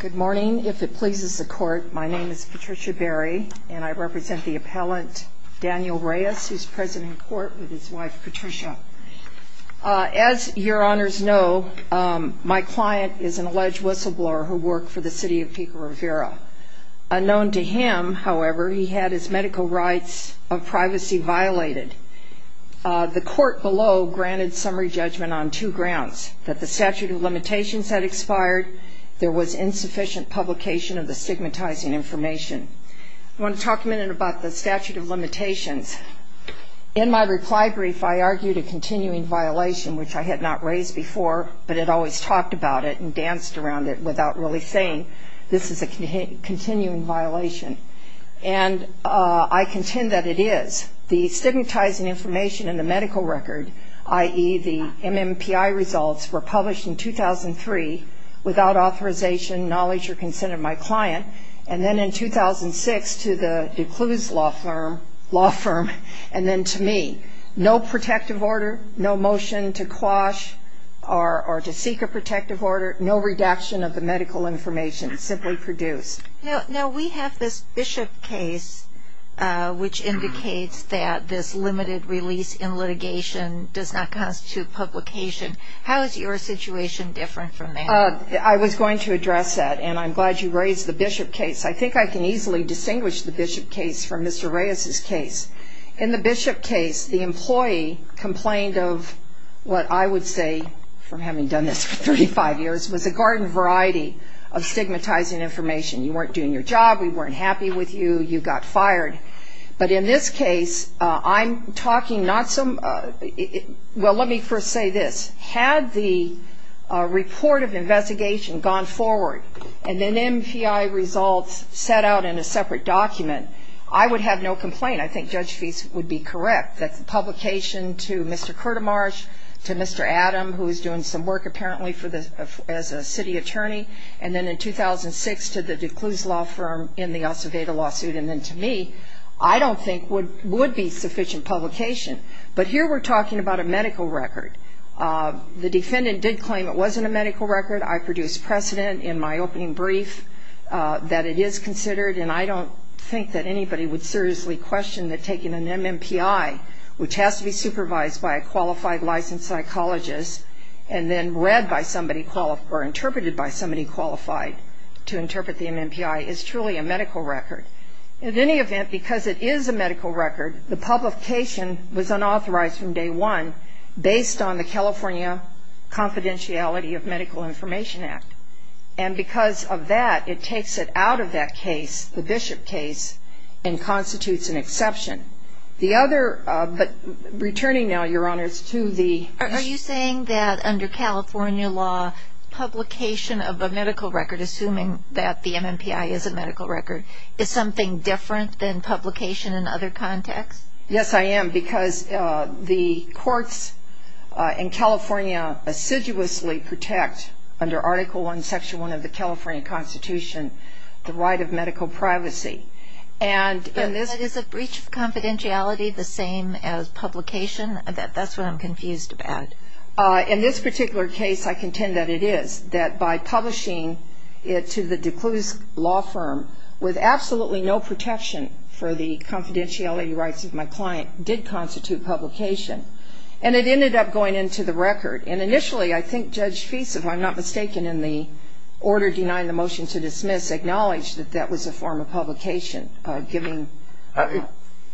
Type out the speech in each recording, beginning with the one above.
Good morning. If it pleases the court, my name is Patricia Berry, and I represent the appellant Daniel Reyes, who's present in court with his wife, Patricia. As your honors know, my client is an alleged whistleblower who worked for the City of Pico-Rivera. Unknown to him, however, he had his medical rights of privacy violated. The court below granted summary judgment on two grounds, that the statute of limitations had expired, there was insufficient publication of the stigmatizing information. I want to talk a minute about the statute of limitations. In my reply brief, I argued a continuing violation, which I had not raised before, but had always talked about it and danced around it without really saying this is a continuing violation. And I contend that it is. The stigmatizing information in the medical record, i.e., the MMPI results, were published in 2003 without authorization, knowledge, or consent of my client. And then in 2006 to the D'Cluso law firm, and then to me. No protective order, no motion to quash or to seek a protective order, no redaction of the medical information, simply produced. Now, we have this Bishop case, which indicates that this limited release in litigation does not constitute publication. How is your situation different from that? I was going to address that, and I'm glad you raised the Bishop case. I think I can easily distinguish the Bishop case from Mr. Reyes's case. In the Bishop case, the employee complained of what I would say, from having done this for 35 years, was a garden variety of stigmatizing information. You weren't doing your job. We weren't happy with you. You got fired. But in this case, I'm talking not some – well, let me first say this. Had the report of investigation gone forward, and then MPI results set out in a separate document, I would have no complaint. I think Judge Feist would be correct that the publication to Mr. Curtomarsh, to Mr. Adam, who is doing some work apparently as a city attorney, and then in 2006 to the D'Cluse law firm in the Acevedo lawsuit, and then to me, I don't think would be sufficient publication. But here we're talking about a medical record. The defendant did claim it wasn't a medical record. I produced precedent in my opening brief that it is considered, and I don't think that anybody would seriously question that taking an MMPI, which has to be supervised by a qualified licensed psychologist, and then read by somebody or interpreted by somebody qualified to interpret the MMPI, is truly a medical record. In any event, because it is a medical record, the publication was unauthorized from day one, based on the California Confidentiality of Medical Information Act. And because of that, it takes it out of that case, the Bishop case, and constitutes an exception. The other, but returning now, Your Honors, to the- Are you saying that under California law, publication of a medical record, assuming that the MMPI is a medical record, is something different than publication in other contexts? Yes, I am, because the courts in California assiduously protect, under Article I, Section I of the California Constitution, the right of medical privacy. And is a breach of confidentiality the same as publication? That's what I'm confused about. In this particular case, I contend that it is. That by publishing it to the D'Cluso law firm, with absolutely no protection for the confidentiality rights of my client, did constitute publication. And it ended up going into the record. And initially, I think Judge Fease, if I'm not mistaken, in the order denying the motion to dismiss, acknowledged that that was a form of publication, giving-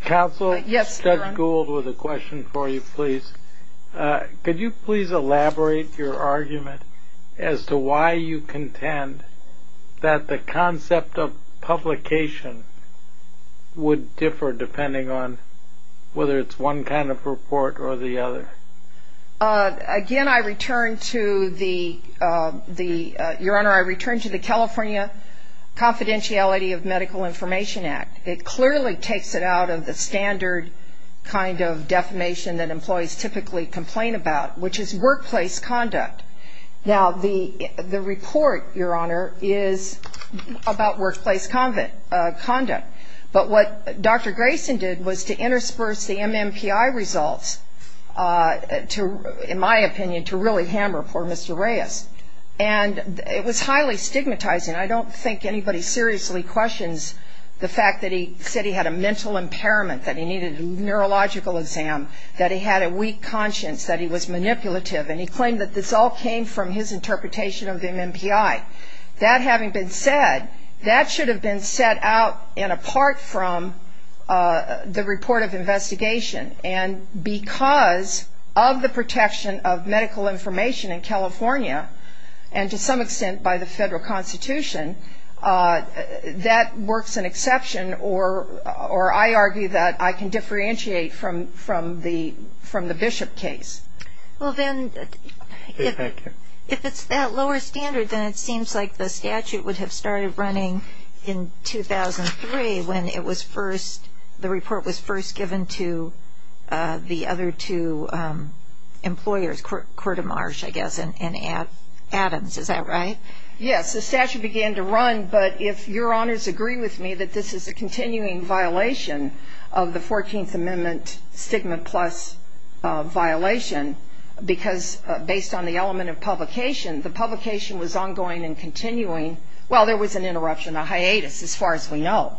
Counsel? Yes, Your Honor. Judge Gould, with a question for you, please. Could you please elaborate your argument as to why you contend that the concept of publication would differ, depending on whether it's one kind of report or the other? Again, I return to the, Your Honor, I return to the California Confidentiality of Medical Information Act. It clearly takes it out of the standard kind of defamation that employees typically complain about, which is workplace conduct. Now, the report, Your Honor, is about workplace conduct. But what Dr. Grayson did was to intersperse the MMPI results to, in my opinion, to really hammer poor Mr. Reyes. And it was highly stigmatizing. I don't think anybody seriously questions the fact that he said he had a mental impairment, that he needed a neurological exam, that he had a weak conscience, that he was manipulative. And he claimed that this all came from his interpretation of the MMPI. That having been said, that should have been set out and apart from the report of investigation. And because of the protection of medical information in California, and to some extent by the federal Constitution, that works an exception, or I argue that I can differentiate from the Bishop case. Well, then, if it's that lower standard, then it seems like the statute would have started running in 2003 when it was first, the report was first given to the other two employers, Court of Marsh, I guess, and Adams. Is that right? Yes. The statute began to run. But if Your Honors agree with me that this is a continuing violation of the 14th Amendment stigma plus violation, because based on the element of publication, the publication was ongoing and continuing. Well, there was an interruption, a hiatus, as far as we know.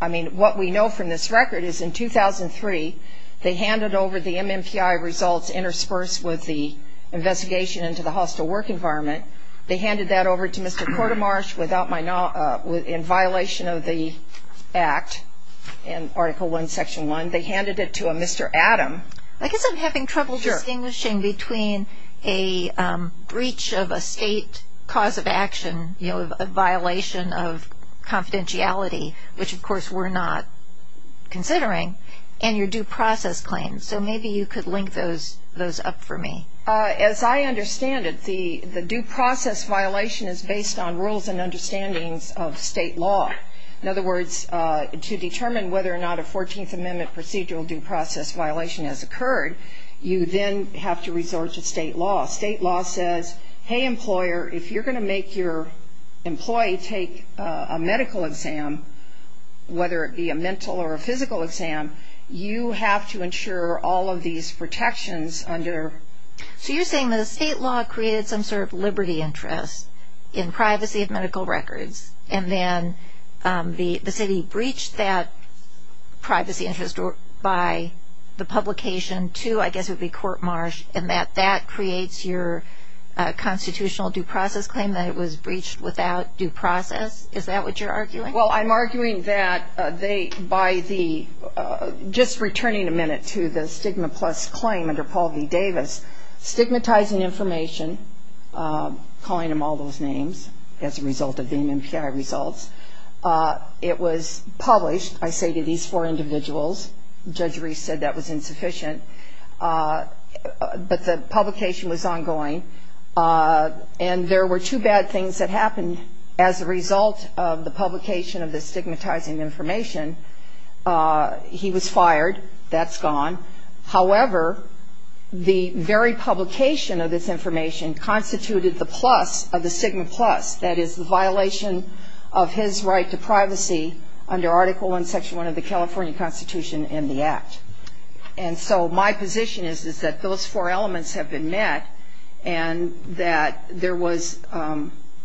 I mean, what we know from this record is in 2003, they handed over the MMPI results interspersed with the investigation into the hostile work environment. They handed that over to Mr. Court of Marsh in violation of the act in Article I, Section 1. They handed it to a Mr. Adams. I guess I'm having trouble distinguishing between a breach of a state cause of action, you know, a violation of confidentiality, which, of course, we're not considering, and your due process claims. So maybe you could link those up for me. As I understand it, the due process violation is based on rules and understandings of state law. In other words, to determine whether or not a 14th Amendment procedural due process violation has occurred, you then have to resort to state law. State law says, hey, employer, if you're going to make your employee take a medical exam, whether it be a mental or a physical exam, you have to ensure all of these protections under. So you're saying that the state law created some sort of liberty interest in privacy of medical records, and then the city breached that privacy interest by the publication to, I guess it would be, Court Marsh, and that that creates your constitutional due process claim that it was breached without due process? Is that what you're arguing? Well, I'm arguing that they, by the, just returning a minute to the stigma plus claim under Paul V. Davis, stigmatizing information, calling them all those names as a result of the MMPI results. It was published, I say, to these four individuals. Judge Reese said that was insufficient. But the publication was ongoing. And there were two bad things that happened as a result of the publication of the stigmatizing information. He was fired. That's gone. However, the very publication of this information constituted the plus of the stigma plus, that is the violation of his right to privacy under Article 1, Section 1 of the California Constitution and the Act. And so my position is that those four elements have been met and that there was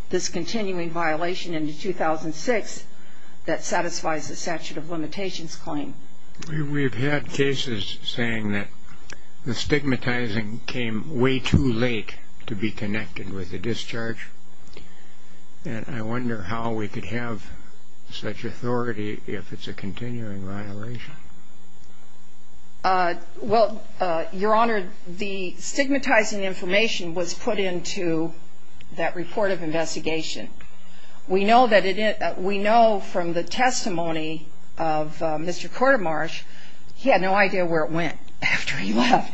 this continuing violation in 2006 that satisfies the statute of limitations claim. We've had cases saying that the stigmatizing came way too late to be connected with the discharge. And I wonder how we could have such authority if it's a continuing violation. Well, Your Honor, the stigmatizing information was put into that report of investigation. We know from the testimony of Mr. Quartermarsh, he had no idea where it went after he left.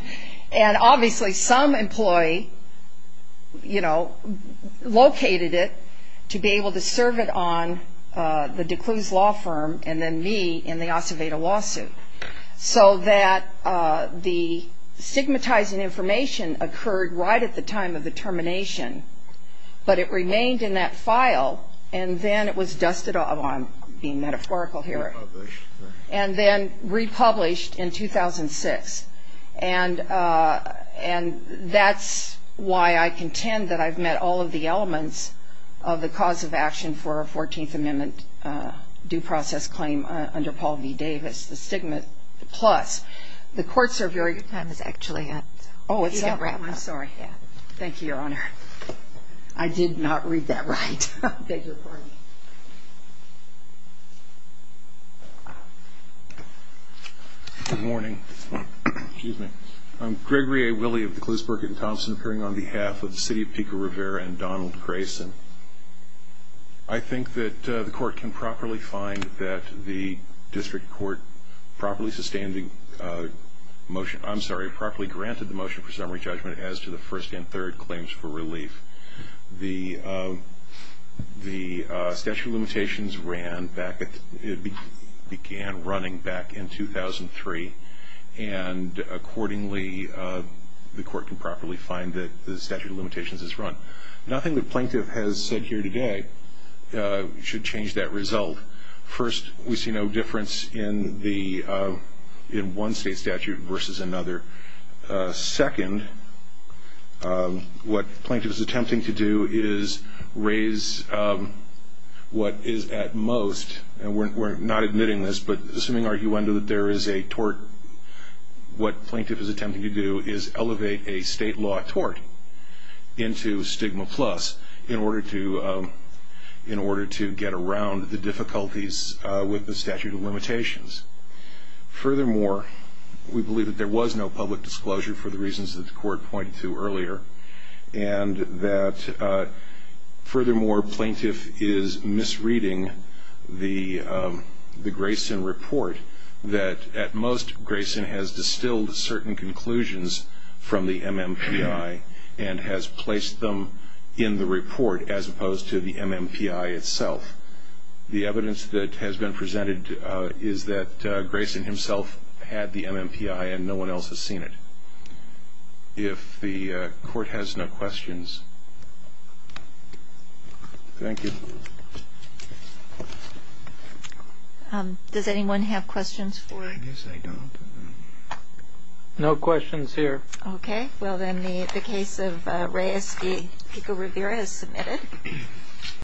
And obviously some employee, you know, located it to be able to serve it on the D'Cluse law firm and then me in the Acevedo lawsuit. So that the stigmatizing information occurred right at the time of the termination, but it remained in that file and then it was dusted off. I'm being metaphorical here. And then republished in 2006. And that's why I contend that I've met all of the elements of the cause of action for a 14th Amendment due process claim under Paul V. Davis, the stigma plus. The courts are very... Your time is actually up. Oh, it's up. I'm sorry. Thank you, Your Honor. I did not read that right. I beg your pardon. Good morning. Excuse me. I'm Gregory A. Willey of the D'Cluse, Burke & Thompson, appearing on behalf of the city of Pico Rivera and Donald Grayson. I think that the court can properly find that the district court properly sustained the motion, I'm sorry, properly granted the motion for summary judgment as to the first and third claims for relief. The statute of limitations began running back in 2003, and accordingly the court can properly find that the statute of limitations is run. Nothing the plaintiff has said here today should change that result. First, we see no difference in one state statute versus another. Second, what the plaintiff is attempting to do is raise what is at most, and we're not admitting this, but assuming arguendo that there is a tort, what the plaintiff is attempting to do is elevate a state law tort into stigma plus in order to get around the difficulties with the statute of limitations. Furthermore, we believe that there was no public disclosure for the reasons that the court pointed to earlier, and that furthermore, plaintiff is misreading the Grayson report, that at most Grayson has distilled certain conclusions from the MMPI and has placed them in the report as opposed to the MMPI itself. The evidence that has been presented is that Grayson himself had the MMPI and no one else has seen it. If the court has no questions, thank you. Does anyone have questions for? I guess I don't. No questions here. Okay, well then the case of Reyes v. Pico-Rivera is submitted.